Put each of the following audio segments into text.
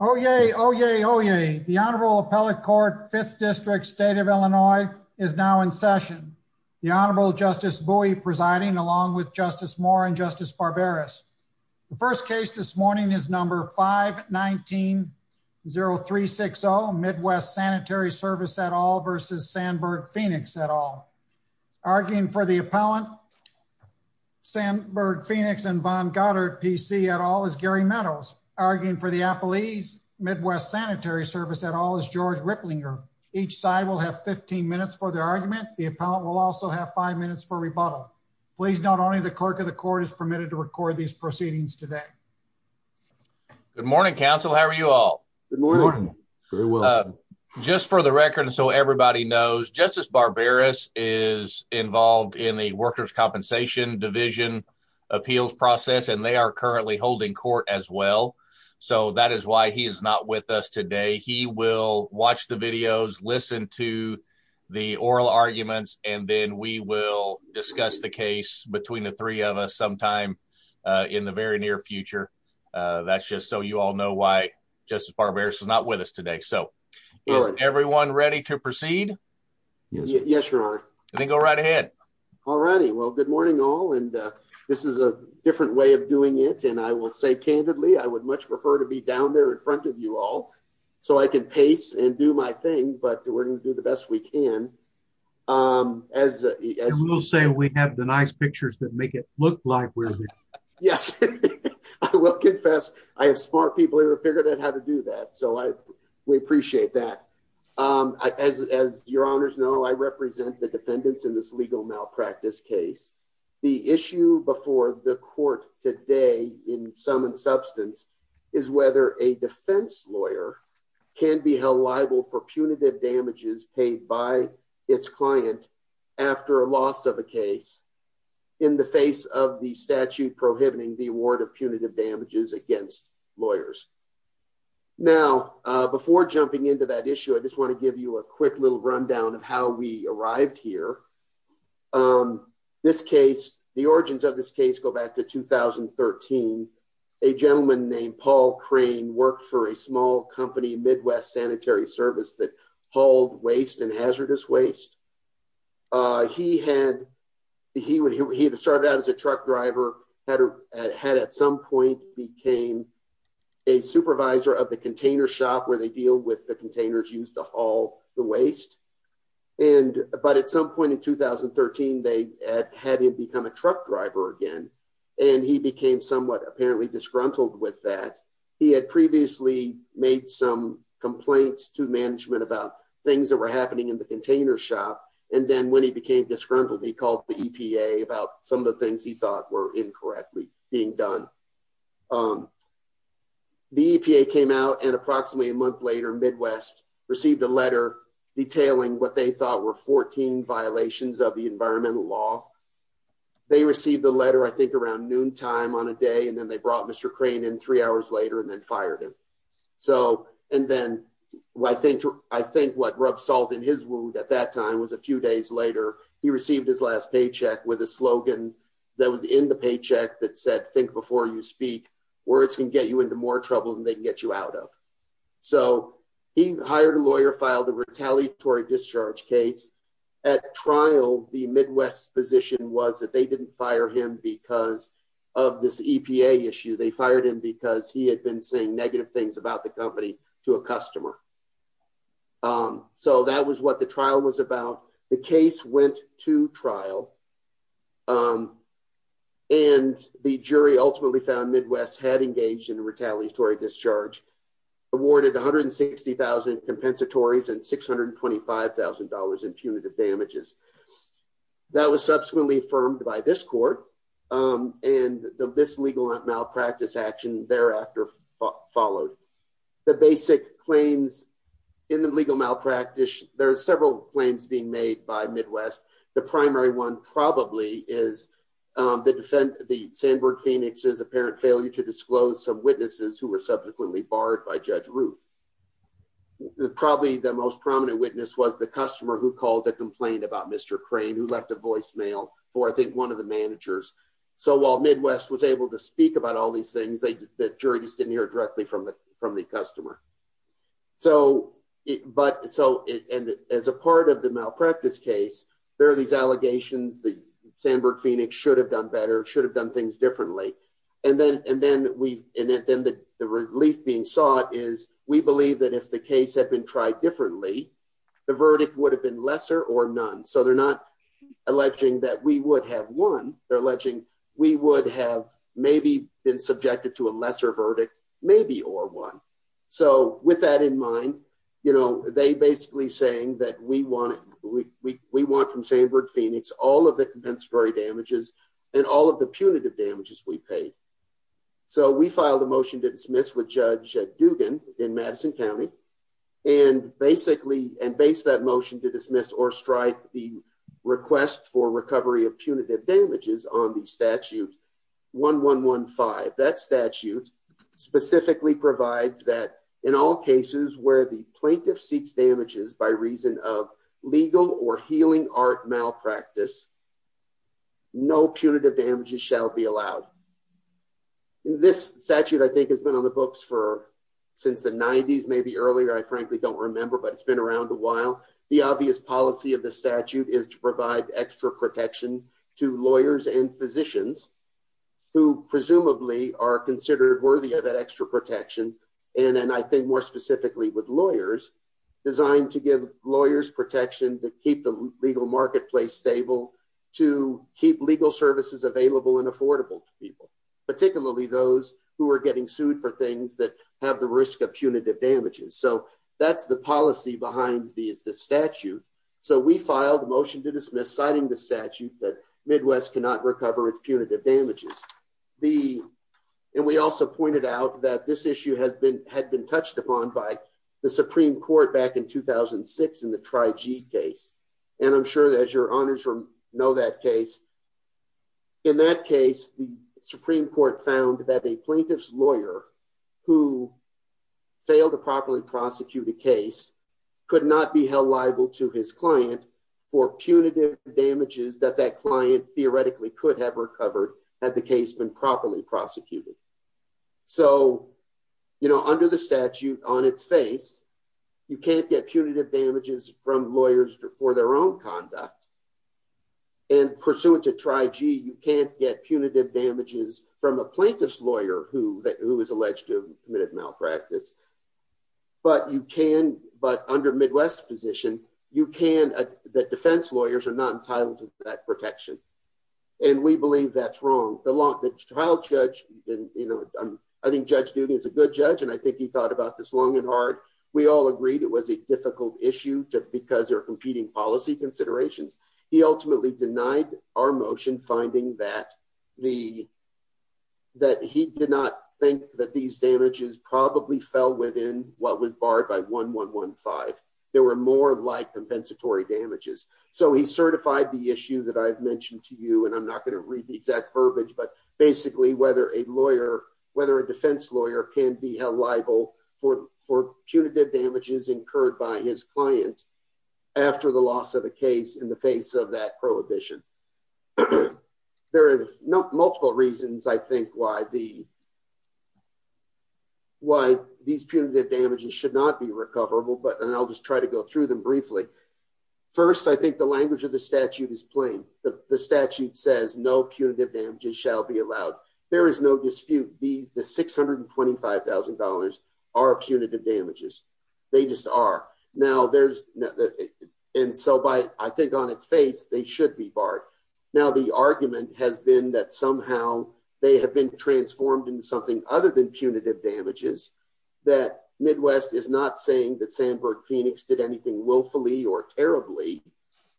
Oh, yay. Oh, yay. Oh, yay. The Honorable Appellate Court, 5th District, State of Illinois, is now in session. The Honorable Justice Bowie presiding along with Justice Moore and Justice Barberis. The first case this morning is number 519-0360, Midwest Sanitary Service et al. versus Sandberg-Phoenix et al. Arguing for the appellees, Midwest Sanitary Service et al. is George Ripplinger. Each side will have 15 minutes for their argument. The appellant will also have 5 minutes for rebuttal. Please note only the clerk of the court is permitted to record these proceedings today. Good morning, counsel. How are you all? Good morning. Very well. Just for the record and so everybody knows, Justice Barberis is involved in the Workers' Compensation Division appeals process and they are currently holding court as well. So that is why he is not with us today. He will watch the videos, listen to the oral arguments, and then we will discuss the case between the three of us sometime in the very near future. That's just so you all know why Justice Barberis is not with us today. So is everyone ready to proceed? Yes, Your Honor. Then go right ahead. All righty. Well, good morning all. This is a different way of doing it and I will say candidly I would much prefer to be down there in front of you all so I can pace and do my thing, but we're going to do the best we can. We will say we have the nice pictures that make it look like we're there. Yes, I will confess I have smart people who have figured out how to do that. So we appreciate that. As Your Honors know, I represent the defendants in this legal malpractice case. The issue before the court today, in sum and substance, is whether a defense lawyer can be held liable for punitive damages paid by its client after a loss of a case in the face of the statute prohibiting the award of punitive damages against lawyers. Now, before jumping into that issue, I just want to give you a quick little rundown of how we arrived here. The origins of this case go back to 2013. A gentleman named Paul Crane worked for a small company, Midwest Sanitary Service, that hauled waste and hazardous waste. He had started out as a truck driver, had at some point became a supervisor of the container shop, where they deal with the containers used to haul the waste. But at some point in 2013, they had him become a truck driver again, and he became somewhat apparently disgruntled with that. He had previously made some complaints to management about things that were happening in the container shop. And then when he became disgruntled, he called the EPA about some of the things he thought were incorrectly being done. The EPA came out and approximately a month later, Midwest received a letter detailing what they thought were 14 violations of the environmental law. They received the letter, I think, around noontime on a day, and then they brought Mr. Crane in three hours later and then fired him. And then I think what rubbed salt in his wound at that time was a few days later, he received his last paycheck with a slogan that was in the paycheck that said, think before you speak, words can get you into more trouble than they can get you out of. So he hired a lawyer, filed a retaliatory discharge case. At trial, the Midwest position was that they didn't fire him because of this EPA issue. They fired him because he had been saying negative things about the company to a customer. So that was what the trial was about. The case went to trial. And the jury ultimately found Midwest had engaged in a retaliatory discharge, awarded one hundred and sixty thousand compensatory and six hundred and twenty five thousand dollars in punitive damages. That was subsequently affirmed by this court. And this legal malpractice action thereafter followed. The basic claims in the legal malpractice, there are several claims being made by Midwest. The primary one probably is the defend the Sandburg Phoenix's apparent failure to disclose some witnesses who were subsequently barred by Judge Ruth. Probably the most prominent witness was the customer who called to complain about Mr. Crane, who left a voicemail for, I think, one of the managers. So while Midwest was able to speak about all these things, the juries didn't hear directly from the from the customer. So but so and as a part of the malpractice case, there are these allegations that Sandburg Phoenix should have done better, should have done things differently. And then and then we and then the relief being sought is we believe that if the case had been tried differently, the verdict would have been lesser or none. So they're not alleging that we would have won. They're alleging we would have maybe been subjected to a lesser verdict, maybe or one. So with that in mind, you know, they basically saying that we want we we want from Sandburg Phoenix, all of the compensatory damages and all of the punitive damages we pay. So we filed a motion to dismiss with Judge Dugan in Madison County and basically and base that motion to dismiss or strike the request for recovery of punitive damages on the statute. One one one five. That statute specifically provides that in all cases where the plaintiff seeks damages by reason of legal or healing art malpractice. No punitive damages shall be allowed. This statute, I think, has been on the books for since the 90s, maybe earlier. I frankly don't remember, but it's been around a while. The obvious policy of the statute is to provide extra protection to lawyers and physicians who presumably are considered worthy of that extra protection. And I think more specifically with lawyers designed to give lawyers protection to keep the legal marketplace stable, to keep legal services available and affordable to people, particularly those who are getting sued for things that have the risk of punitive damages. So that's the policy behind the statute. So we filed a motion to dismiss citing the statute that Midwest cannot recover its punitive damages. And we also pointed out that this issue has been had been touched upon by the Supreme Court back in 2006 in the Tri-G case. And I'm sure that your honors know that case. In that case, the Supreme Court found that a plaintiff's lawyer who failed to properly prosecute a case could not be held liable to his client for punitive damages that that client theoretically could have recovered had the case been properly prosecuted. So, you know, under the statute on its face, you can't get punitive damages from lawyers for their own conduct. And pursuant to Tri-G, you can't get punitive damages from a plaintiff's lawyer who is alleged to have committed malpractice. But you can, but under Midwest's position, you can, that defense lawyers are not entitled to that protection. And we believe that's wrong. The trial judge, you know, I think Judge Dugan is a good judge and I think he thought about this long and hard. We all agreed it was a difficult issue because there are competing policy considerations. He ultimately denied our motion, finding that he did not think that these damages probably fell within what was barred by 1.1.1.5. There were more like compensatory damages. So he certified the issue that I've mentioned to you, and I'm not going to read the exact verbiage, but basically whether a lawyer, whether a defense lawyer can be held liable for punitive damages incurred by his client. After the loss of a case in the face of that prohibition. There are multiple reasons I think why these punitive damages should not be recoverable, and I'll just try to go through them briefly. First, I think the language of the statute is plain. The statute says no punitive damages shall be allowed. There is no dispute, the $625,000 are punitive damages. They just are. And so I think on its face, they should be barred. Now the argument has been that somehow they have been transformed into something other than punitive damages, that Midwest is not saying that Sandburg-Phoenix did anything willfully or terribly.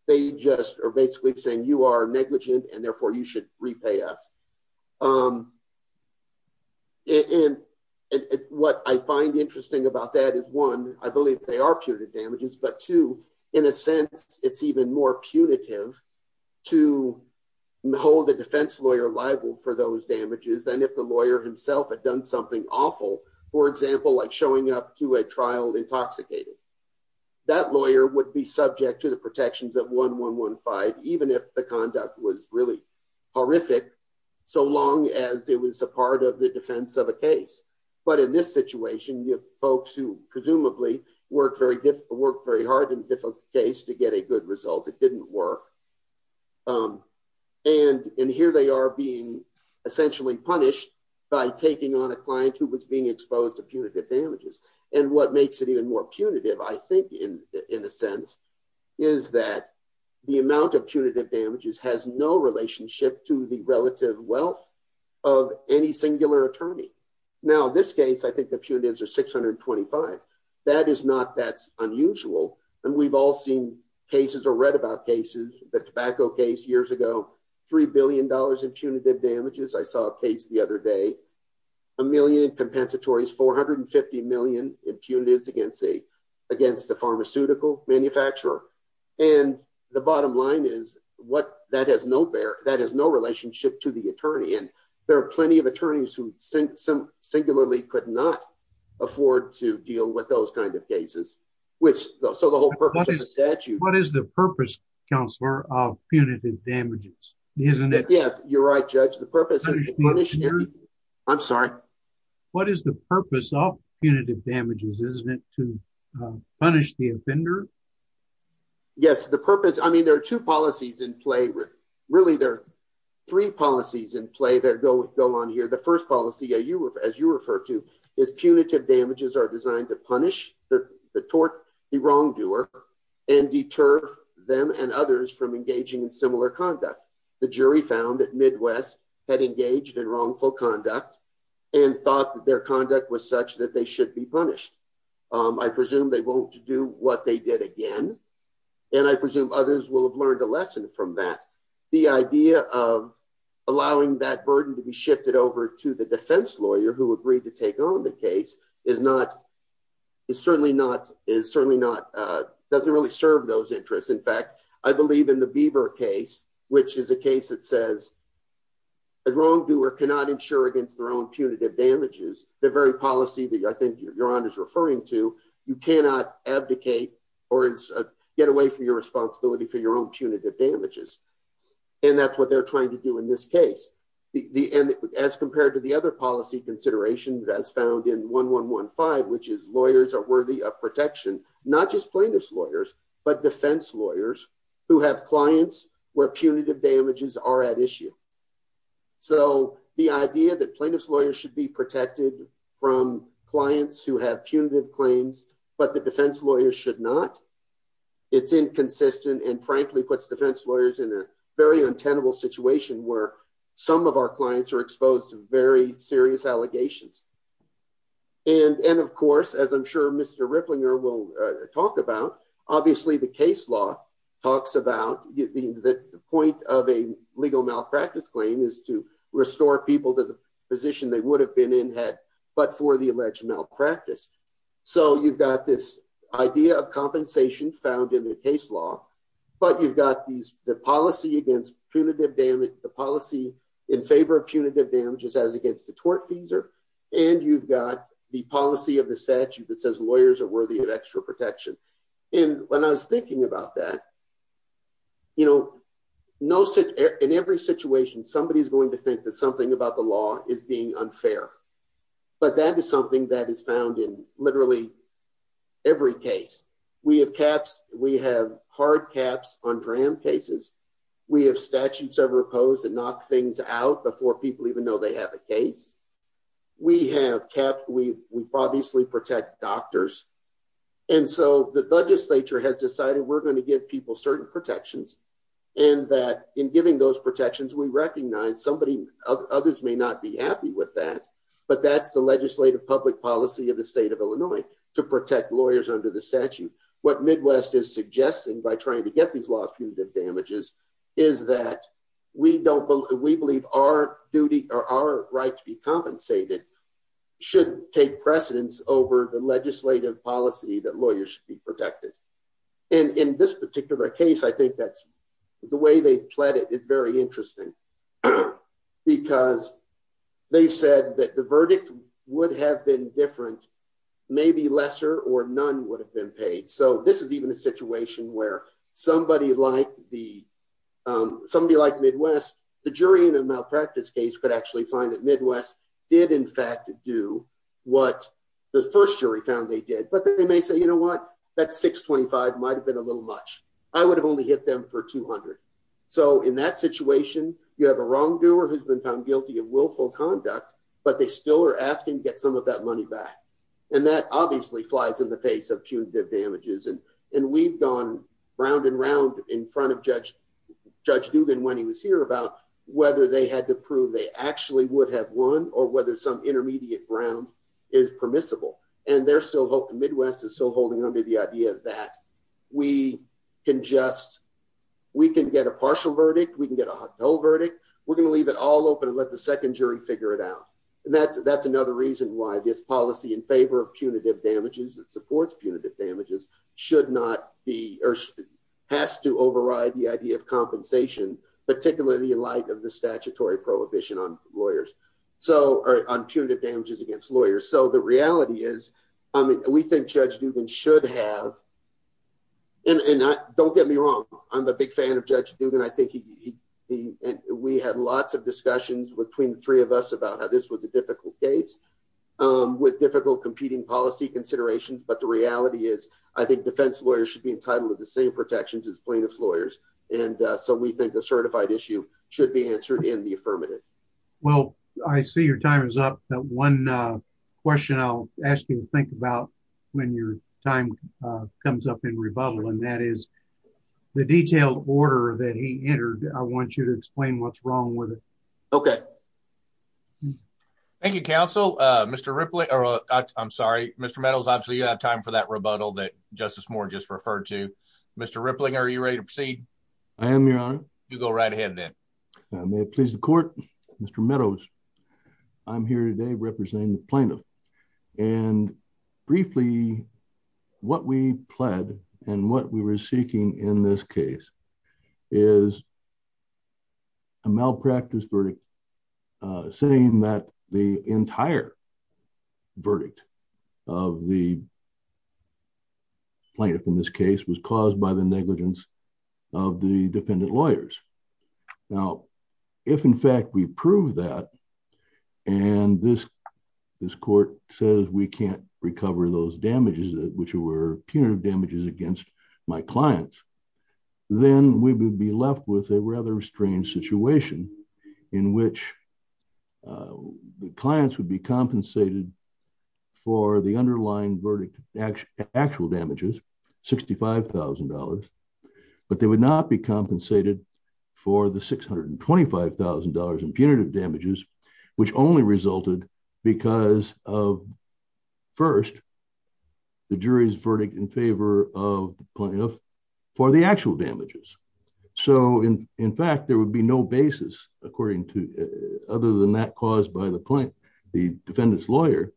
They just are basically saying you are negligent and therefore you should repay us. And what I find interesting about that is one, I believe they are punitive damages, but two, in a sense, it's even more punitive to hold a defense lawyer liable for those damages than if the lawyer himself had done something awful, for example, like showing up to a trial intoxicated. That lawyer would be subject to the protections of 1115, even if the conduct was really horrific, so long as it was a part of the defense of a case. But in this situation, you have folks who presumably worked very hard in a difficult case to get a good result. It didn't work. And here they are being essentially punished by taking on a client who was being exposed to punitive damages. And what makes it even more punitive, I think, in a sense, is that the amount of punitive damages has no relationship to the relative wealth of any singular attorney. Now, in this case, I think the punitives are 625. That is not that unusual. And we've all seen cases or read about cases, the tobacco case years ago, $3 billion in punitive damages. I saw a case the other day. A million in compensatory, 450 million in punitive against a pharmaceutical manufacturer. And the bottom line is, that has no relationship to the attorney. And there are plenty of attorneys who singularly could not afford to deal with those kinds of cases. What is the purpose, Counselor, of punitive damages? Yeah, you're right, Judge. I'm sorry. What is the purpose of punitive damages? Isn't it to punish the offender? Yes, the purpose. I mean, there are two policies in play. Really, there are three policies in play that go on here. The first policy, as you refer to, is punitive damages are designed to punish the tort, the wrongdoer, and deter them and others from engaging in similar conduct. The jury found that Midwest had engaged in wrongful conduct and thought that their conduct was such that they should be punished. I presume they won't do what they did again. And I presume others will have learned a lesson from that. The idea of allowing that burden to be shifted over to the defense lawyer who agreed to take on the case is not, is certainly not, is certainly not, doesn't really serve those interests. In fact, I believe in the Beaver case, which is a case that says a wrongdoer cannot insure against their own punitive damages. The very policy that I think Your Honor is referring to, you cannot abdicate or get away from your responsibility for your own punitive damages. And that's what they're trying to do in this case. As compared to the other policy considerations as found in 1115, which is lawyers are worthy of protection, not just plaintiff's lawyers, but defense lawyers who have clients where punitive damages are at issue. So the idea that plaintiff's lawyers should be protected from clients who have punitive claims, but the defense lawyers should not, it's inconsistent and frankly puts defense lawyers in a very untenable situation where some of our clients are exposed to very serious allegations. And of course, as I'm sure Mr. Ripplinger will talk about, obviously the case law talks about the point of a legal malpractice claim is to restore people to the position they would have been in had, but for the alleged malpractice. So you've got this idea of compensation found in the case law, but you've got the policy in favor of punitive damages as against the tort fees, and you've got the policy of the statute that says lawyers are worthy of extra protection. And when I was thinking about that, you know, in every situation, somebody is going to think that something about the law is being unfair. But that is something that is found in literally every case. We have caps, we have hard caps on DRAM cases. We have statutes of repose that knock things out before people even know they have a case. We have caps, we obviously protect doctors. And so the legislature has decided we're going to give people certain protections, and that in giving those protections, we recognize somebody, others may not be happy with that. But that's the legislative public policy of the state of Illinois to protect lawyers under the statute. What Midwest is suggesting by trying to get these laws punitive damages is that we believe our duty or our right to be compensated should take precedence over the legislative policy that lawyers should be protected. And in this particular case, I think that's the way they've pled it. It's very interesting. Because they said that the verdict would have been different, maybe lesser or none would have been paid. So this is even a situation where somebody like Midwest, the jury in a malpractice case, could actually find that Midwest did in fact do what the first jury found they did. But they may say, you know what, that 625 might have been a little much. I would have only hit them for 200. So in that situation, you have a wrongdoer who's been found guilty of willful conduct, but they still are asking to get some of that money back. And that obviously flies in the face of punitive damages. And we've gone round and round in front of Judge Dubin when he was here about whether they had to prove they actually would have won or whether some intermediate ground is permissible. And Midwest is still holding onto the idea that we can get a partial verdict, we can get a whole verdict, we're going to leave it all open and let the second jury figure it out. And that's another reason why this policy in favor of punitive damages, it supports punitive damages, has to override the idea of compensation, particularly in light of the statutory prohibition on punitive damages against lawyers. So the reality is, we think Judge Dubin should have, and don't get me wrong, I'm a big fan of Judge Dubin. We had lots of discussions between the three of us about how this was a difficult case with difficult competing policy considerations. But the reality is, I think defense lawyers should be entitled to the same protections as plaintiff's lawyers. And so we think the certified issue should be answered in the affirmative. Well, I see your time is up. One question I'll ask you to think about when your time comes up in rebuttal, and that is the detailed order that he entered. I want you to explain what's wrong with it. Okay. Thank you, counsel. Mr. Ripley, or I'm sorry, Mr. Meadows, obviously you have time for that rebuttal that Justice Moore just referred to. Mr. Rippling, are you ready to proceed? I am, Your Honor. You go right ahead then. May it please the court. Mr. Meadows, I'm here today representing the plaintiff. And briefly, what we pled and what we were seeking in this case is a malpractice verdict, saying that the entire verdict of the plaintiff in this case was caused by the negligence of the defendant lawyers. Now, if in fact we prove that, and this court says we can't recover those damages, which were punitive damages against my clients, then we would be left with a rather strange situation in which the clients would be compensated for the underlying verdict actual damages, $65,000, but they would not be compensated for the $625,000 in punitive damages, which only resulted because of, first, the jury's verdict in favor of the plaintiff for the actual damages. So, in fact, there would be no basis, other than that caused by the defendant's lawyer,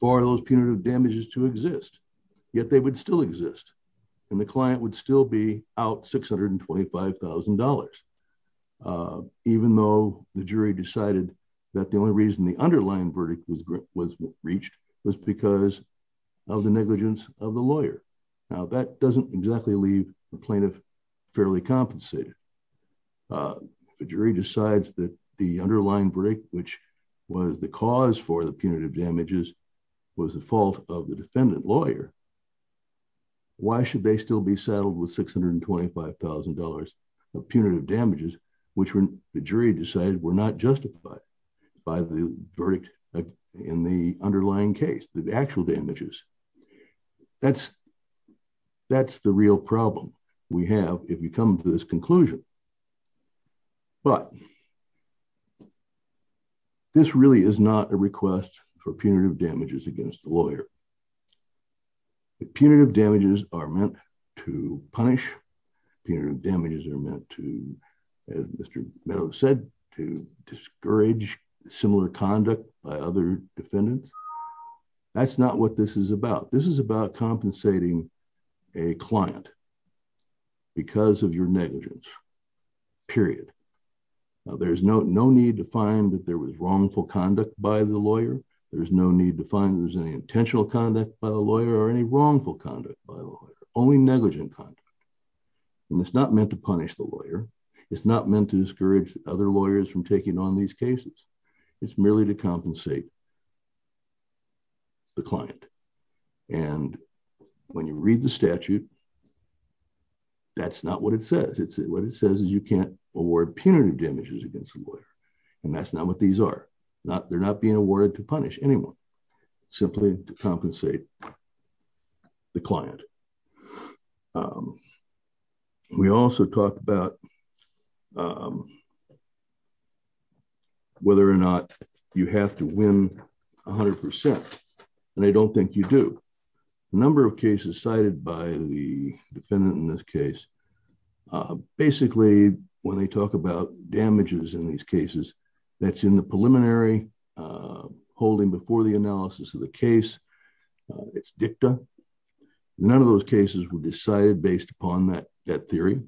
for those punitive damages to exist. Yet they would still exist, and the client would still be out $625,000. Even though the jury decided that the only reason the underlying verdict was reached was because of the negligence of the lawyer. Now, that doesn't exactly leave the plaintiff fairly compensated. The jury decides that the underlying verdict, which was the cause for the punitive damages, was the fault of the defendant lawyer. Why should they still be settled with $625,000 of punitive damages, which the jury decided were not justified by the verdict in the underlying case, the actual damages? That's the real problem we have if we come to this conclusion. But, this really is not a request for punitive damages against the lawyer. The punitive damages are meant to punish. Punitive damages are meant to, as Mr. Meadows said, to discourage similar conduct by other defendants. That's not what this is about. This is about compensating a client because of your negligence, period. Now, there's no need to find that there was wrongful conduct by the lawyer. There's no need to find that there's any intentional conduct by the lawyer or any wrongful conduct by the lawyer. Only negligent conduct. And it's not meant to punish the lawyer. It's not meant to discourage other lawyers from taking on these cases. It's merely to compensate the client. And when you read the statute, that's not what it says. What it says is you can't award punitive damages against a lawyer. And that's not what these are. They're not meant to punish anyone. Simply to compensate the client. We also talked about whether or not you have to win 100%. And I don't think you do. A number of cases cited by the defendant in this case, basically when they talk about damages in these cases, that's in the preliminary holding before the analysis of the case. It's dicta. None of those cases were decided based upon that theory.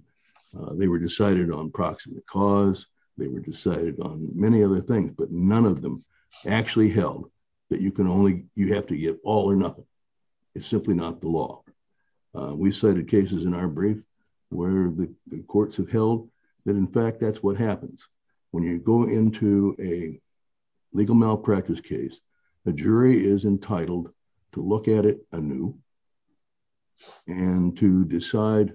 They were decided on proximate cause. They were decided on many other things. But none of them actually held that you have to get all or nothing. It's simply not the law. We cited cases in our brief where the courts have held that in fact that's what happens. When you go into a legal malpractice case, a jury is entitled to look at it anew and to decide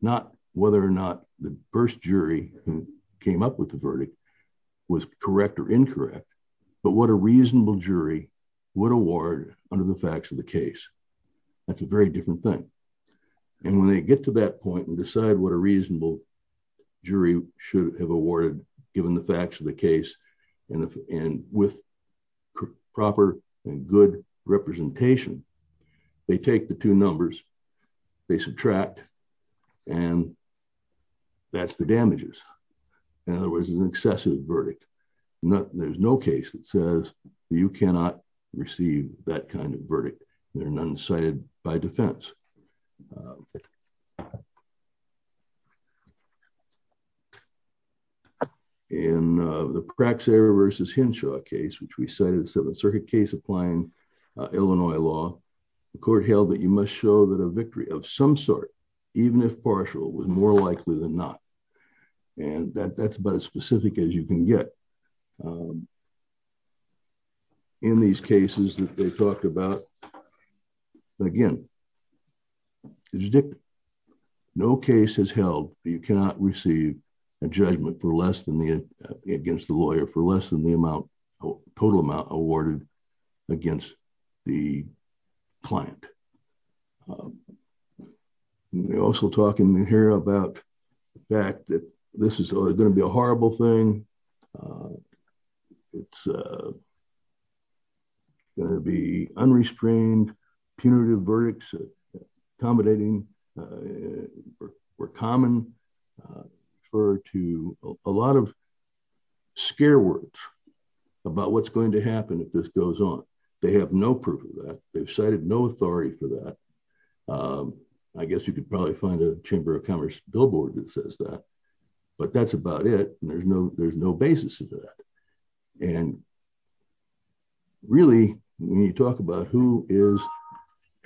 not whether or not the first jury who came up with the verdict was correct or incorrect, but what a reasonable jury would award under the facts of the case. That's a very different thing. And when they get to that point and decide what a reasonable jury should have awarded given the facts of the case and with proper and good representation, they take the two numbers, they subtract, and that's the damages. In other words, an excessive verdict. There's no case that says you cannot receive that kind of verdict. That's not what's been cited by defense. In the Praxair v. Henshaw case, which we cited as a circuit case applying Illinois law, the court held that you must show that a victory of some sort, even if partial, was more likely than not. And that's about as specific as you can get. In these cases that they talked about, again, no case has held that you cannot receive a judgment against the lawyer for less than the total amount awarded against the client. We're also talking here about the fact that this is going to be a horrible thing. It's going to be unrestrained. Punitive verdicts accommodating were common. Referred to a lot of scare words about what's going to happen if this goes on. They have no proof of that. They've cited no authority for that. I guess you could probably find a Chamber of Commerce billboard that says that. But that's about it. There's no basis for that. And really, when you talk about who is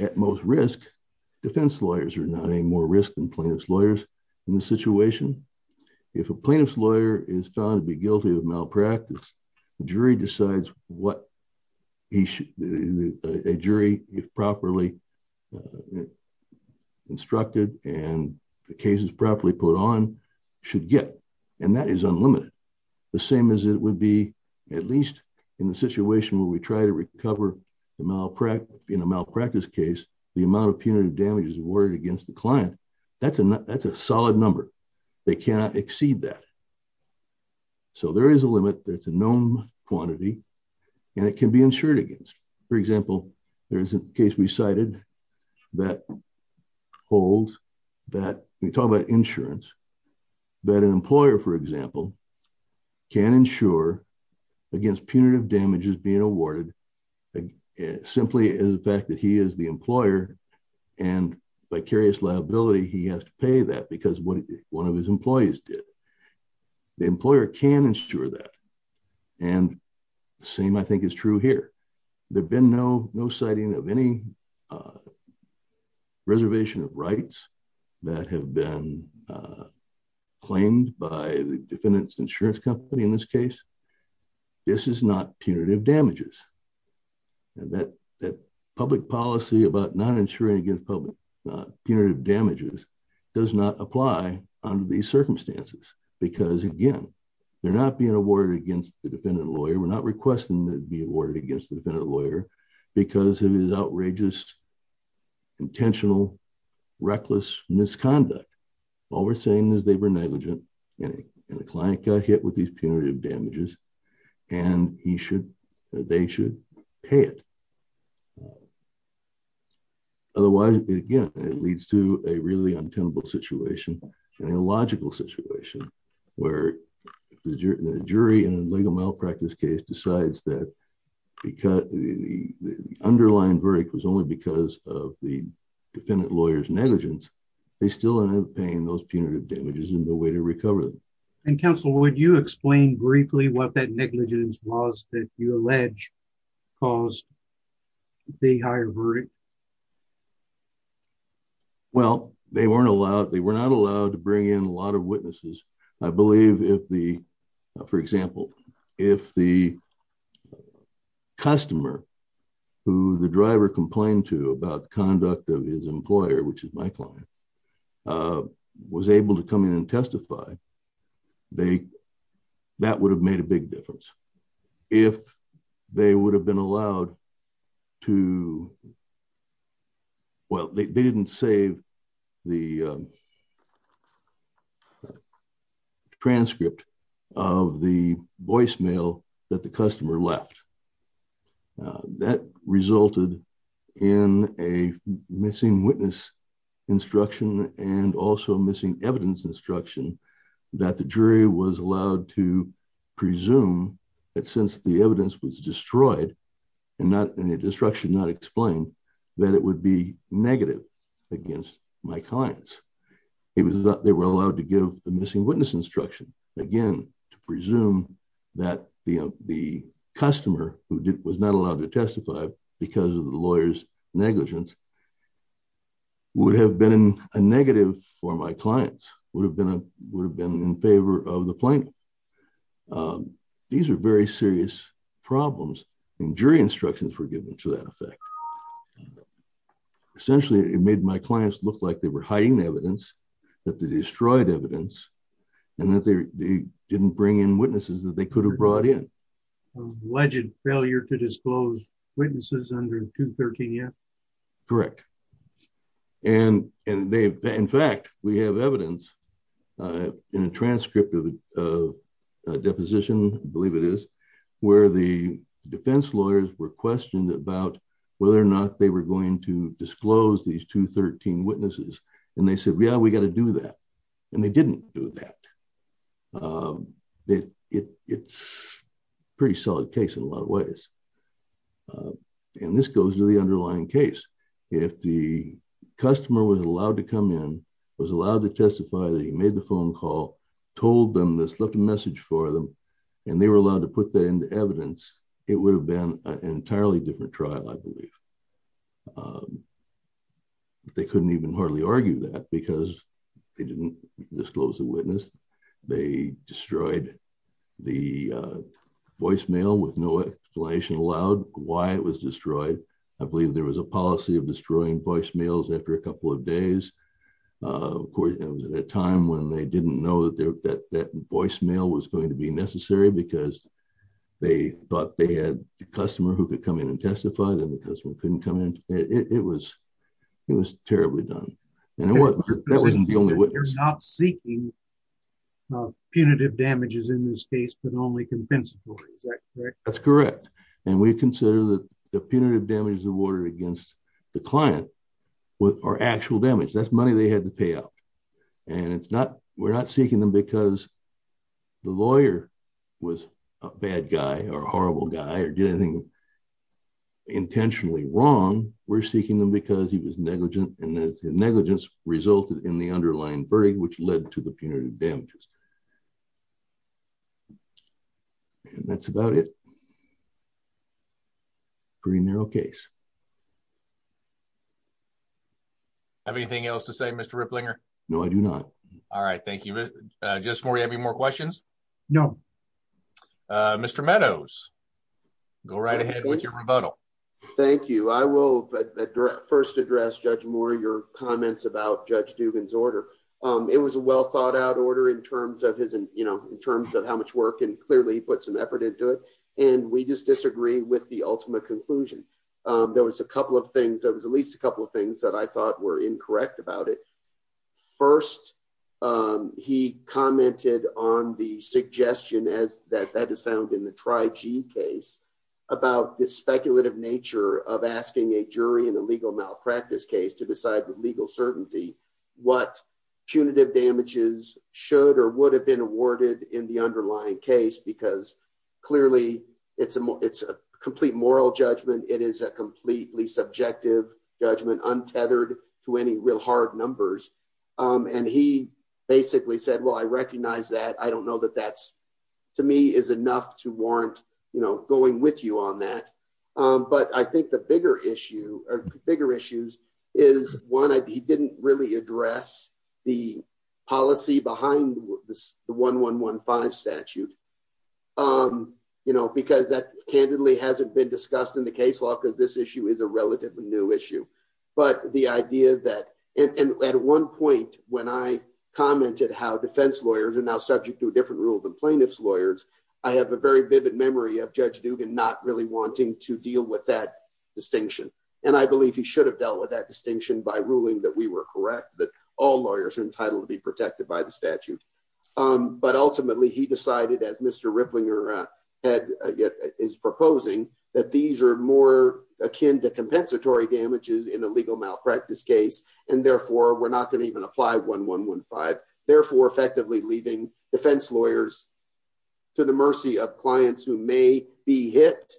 at most risk, defense lawyers are not any more risk than plaintiff's lawyers in this situation. If a plaintiff's lawyer is found to be guilty of malpractice, the jury decides what a jury, if properly instructed and the case is properly put on, should get. And that is unlimited. The same as it would be at least in the situation where we try to recover in a malpractice case the amount of punitive damages awarded against the client. That's a solid number. They cannot exceed that. So there is a limit. That's a known quantity. And it can be insured against. In the case we cited, that holds that we talk about insurance, that an employer, for example, can insure against punitive damages being awarded simply as the fact that he is the employer and vicarious liability. He has to pay that because one of his employees did. The employer can insure that. And the same, I think, is true here. There have been no citing of any reservation of rights that have been claimed by the defendant's insurance company in this case. This is not punitive damages. And that public policy about not insuring against punitive damages does not apply under these circumstances because, again, they're not being awarded against the defendant lawyer. They were not requesting to be awarded against the defendant lawyer because of his outrageous, intentional, reckless misconduct. All we're saying is they were negligent and the client got hit with these punitive damages and they should pay it. Otherwise, again, it leads to a really untenable situation and a logical situation where the jury in a legal malpractice case decides that the underlying verdict was only because of the defendant lawyer's negligence. They still end up paying those punitive damages and no way to recover them. And, counsel, would you explain briefly what that negligence was that you allege caused the higher verdict? Well, they weren't allowed. They were not allowed to bring in a lot of witnesses. I believe if the, for example, if the customer who the driver complained to about conduct of his employer, which is my client, was able to come in and testify, that would have made a big difference. If they would have been allowed to, well, they didn't save the, the transcript of the voicemail that the customer left. That resulted in a missing witness instruction and also missing evidence instruction that the jury was allowed to presume that since the evidence was destroyed and the destruction not explained, that it would be negative against my clients. It was that they were allowed to give the missing witness instruction. Again, to presume that the customer who was not allowed to testify because of the lawyer's negligence would have been a negative for my clients, would have been in favor of the plaintiff. These are very serious problems and jury instructions were given to that effect. Essentially, it made my clients look like they were hiding the evidence, that they destroyed evidence and that they didn't bring in witnesses that they could have brought in. Alleged failure to disclose witnesses under 213F? Correct. In fact, we have evidence in a transcript of a deposition, I believe it is, where the defense lawyers were questioned about whether or not they were going to disclose these 213 witnesses. They said, yeah, we got to do that. They didn't do that. It's a pretty solid case in a lot of ways. This goes to the underlying case. If the customer was allowed to come in, was allowed to testify, that he made the phone call, left a message for them, and they were allowed to put that into evidence, it would have been an entirely different trial, I believe. They couldn't even hardly argue that because they didn't disclose the witness. They destroyed the voicemail with no explanation allowed, why it was destroyed. I believe there was a policy of destroying voicemails after a couple of days. Of course, it was at a time when they didn't know that that voicemail was going to be necessary because they thought they had a customer who could come in and testify, and the customer couldn't come in. It was terribly done. That wasn't the only witness. You're not seeking punitive damages in this case, but only compensatory. Is that correct? That's correct. We consider that the punitive damages awarded against the client are actual damage. That's money they had to pay out. We're not seeking them because the lawyer was a bad guy or a horrible guy or did anything intentionally wrong. We're seeking them because he was negligent and his negligence resulted in the underlying verdict, which led to the punitive damages. That's about it. It's a pretty narrow case. Do you have anything else to say, Mr. Ripplinger? No, I do not. All right. Thank you. Justice Moore, do you have any more questions? No. Mr. Meadows, go right ahead with your rebuttal. Thank you. I will first address, Judge Moore, your comments about Judge Dugan's order. It was a well-thought-out order in terms of how much work, and clearly he put some effort into it. We just disagree with the ultimate conclusion. There was at least a couple of things that I thought were incorrect about it. First, he commented on the suggestion that is found in the Tri-G case about the speculative nature of asking a jury in a legal malpractice case to decide with legal certainty what punitive damages should or would have been awarded in the underlying case because clearly it's a complete moral judgment. It is a completely subjective judgment, untethered to any real hard numbers. And he basically said, well, I recognize that. I don't know that that, to me, is enough to warrant going with you on that. But I think the bigger issue or bigger issues is, one, he didn't really address the policy behind the 1-1-1-5 statute because that candidly hasn't been discussed in the case law because this issue is a relatively new issue. But the idea that... And at one point, when I commented how defense lawyers are now subject to a different rule than plaintiff's lawyers, I have a very vivid memory of Judge Dugan not really wanting to deal with that distinction. And I believe he should have dealt with that distinction by ruling that we were correct, that all lawyers are entitled to be protected by the statute. But ultimately, he decided, as Mr. Ripplinger is proposing, that these are more akin to compensatory damages in a legal malpractice case. And therefore, we're not going to even apply 1-1-1-5, therefore effectively leaving defense lawyers to the mercy of clients who may be hit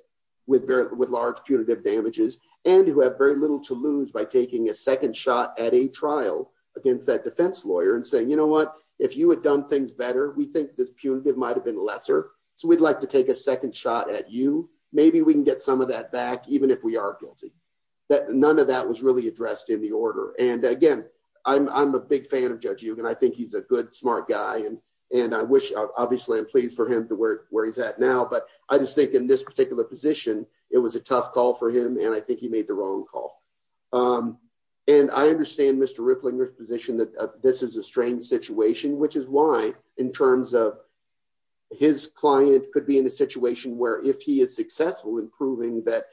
with large punitive damages and who have very little to lose by taking a second shot at a trial against that defense lawyer and saying, you know what? If you had done things better, we think this punitive might have been lesser. So we'd like to take a second shot at you. Maybe we can get some of that back even if we are guilty. None of that was really addressed in the order. And again, I'm a big fan of Judge Dugan. I think he's a good, smart guy. And I wish, obviously, I'm pleased for him to where he's at now. But I just think in this particular position, it was a tough call for him, and I think he made the wrong call. And I understand Mr. Ripplinger's position that this is a strange situation, which is why in terms of his client could be in a situation where he is successful in proving that,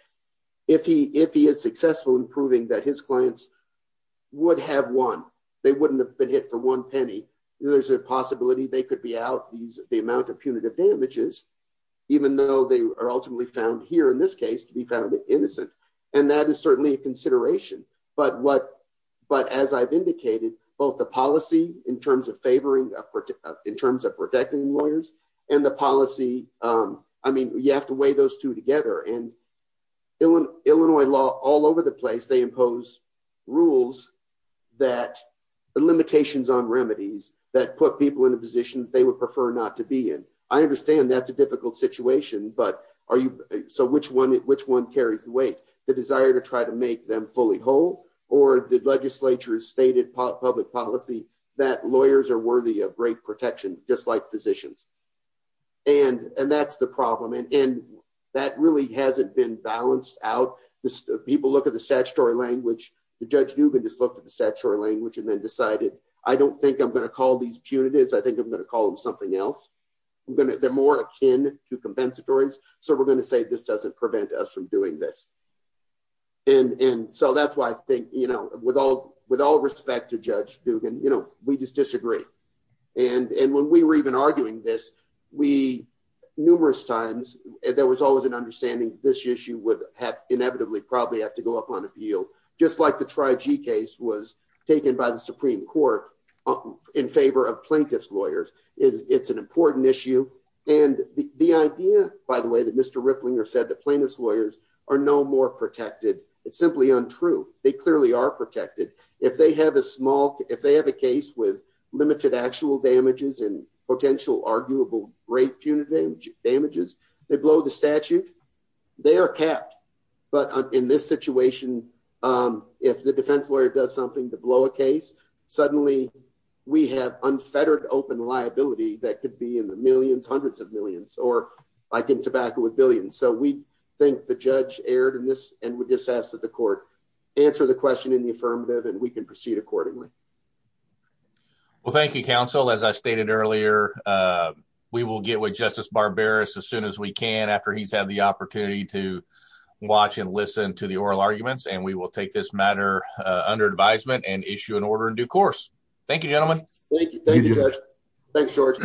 if he is successful in proving that his clients would have won, they wouldn't have been hit for one penny, there's a possibility they could be out the amount of punitive damages, even though they are ultimately found here in this case to be found innocent. And that is certainly a consideration. But as I've indicated, both the policy in terms of favoring, in terms of protecting lawyers, and the policy, I mean, you have to weigh those two together. And Illinois law, all over the place, they impose rules that, limitations on remedies that put people in a position they would prefer not to be in. I understand that's a difficult situation, but are you, so which one, which one carries the weight, the desire to try to make them fully whole, or the legislature's stated public policy that lawyers are worthy of great protection, just like physicians. And that's the problem. And that really hasn't been balanced out. People look at the statutory language, Judge Dugan just looked at the statutory language and then decided, I don't think I'm going to call these punitives, I think I'm going to call them something else. They're more akin to compensatories, so we're going to say this doesn't prevent us from doing this. And so that's why I think, with all respect to Judge Dugan, we just disagree. And when we were even arguing this, we, numerous times, there was always an understanding this issue would inevitably probably have to go up on appeal, just like the Tri-G case was taken by the Supreme Court in favor of plaintiff's lawyers. It's an important issue. And the idea, by the way, that Mr. Ripplinger said that plaintiff's lawyers are no more protected, it's simply untrue. They clearly are protected. If they have a small, if they have a case with limited actual damages or multiple rape punitive damages, they blow the statute, they are kept. But in this situation, if the defense lawyer does something to blow a case, suddenly we have unfettered open liability that could be in the millions, hundreds of millions, or like in tobacco with billions. So we think the judge erred in this, and we just ask that the court answer the question in the affirmative and we can proceed accordingly. Well, thank you, counsel. We will get with Justice Barberis as soon as we can after he's had the opportunity to watch and listen to the oral arguments. And we will take this matter under advisement and issue an order in due course. Thank you, gentlemen. Thank you, Judge. Thanks, George.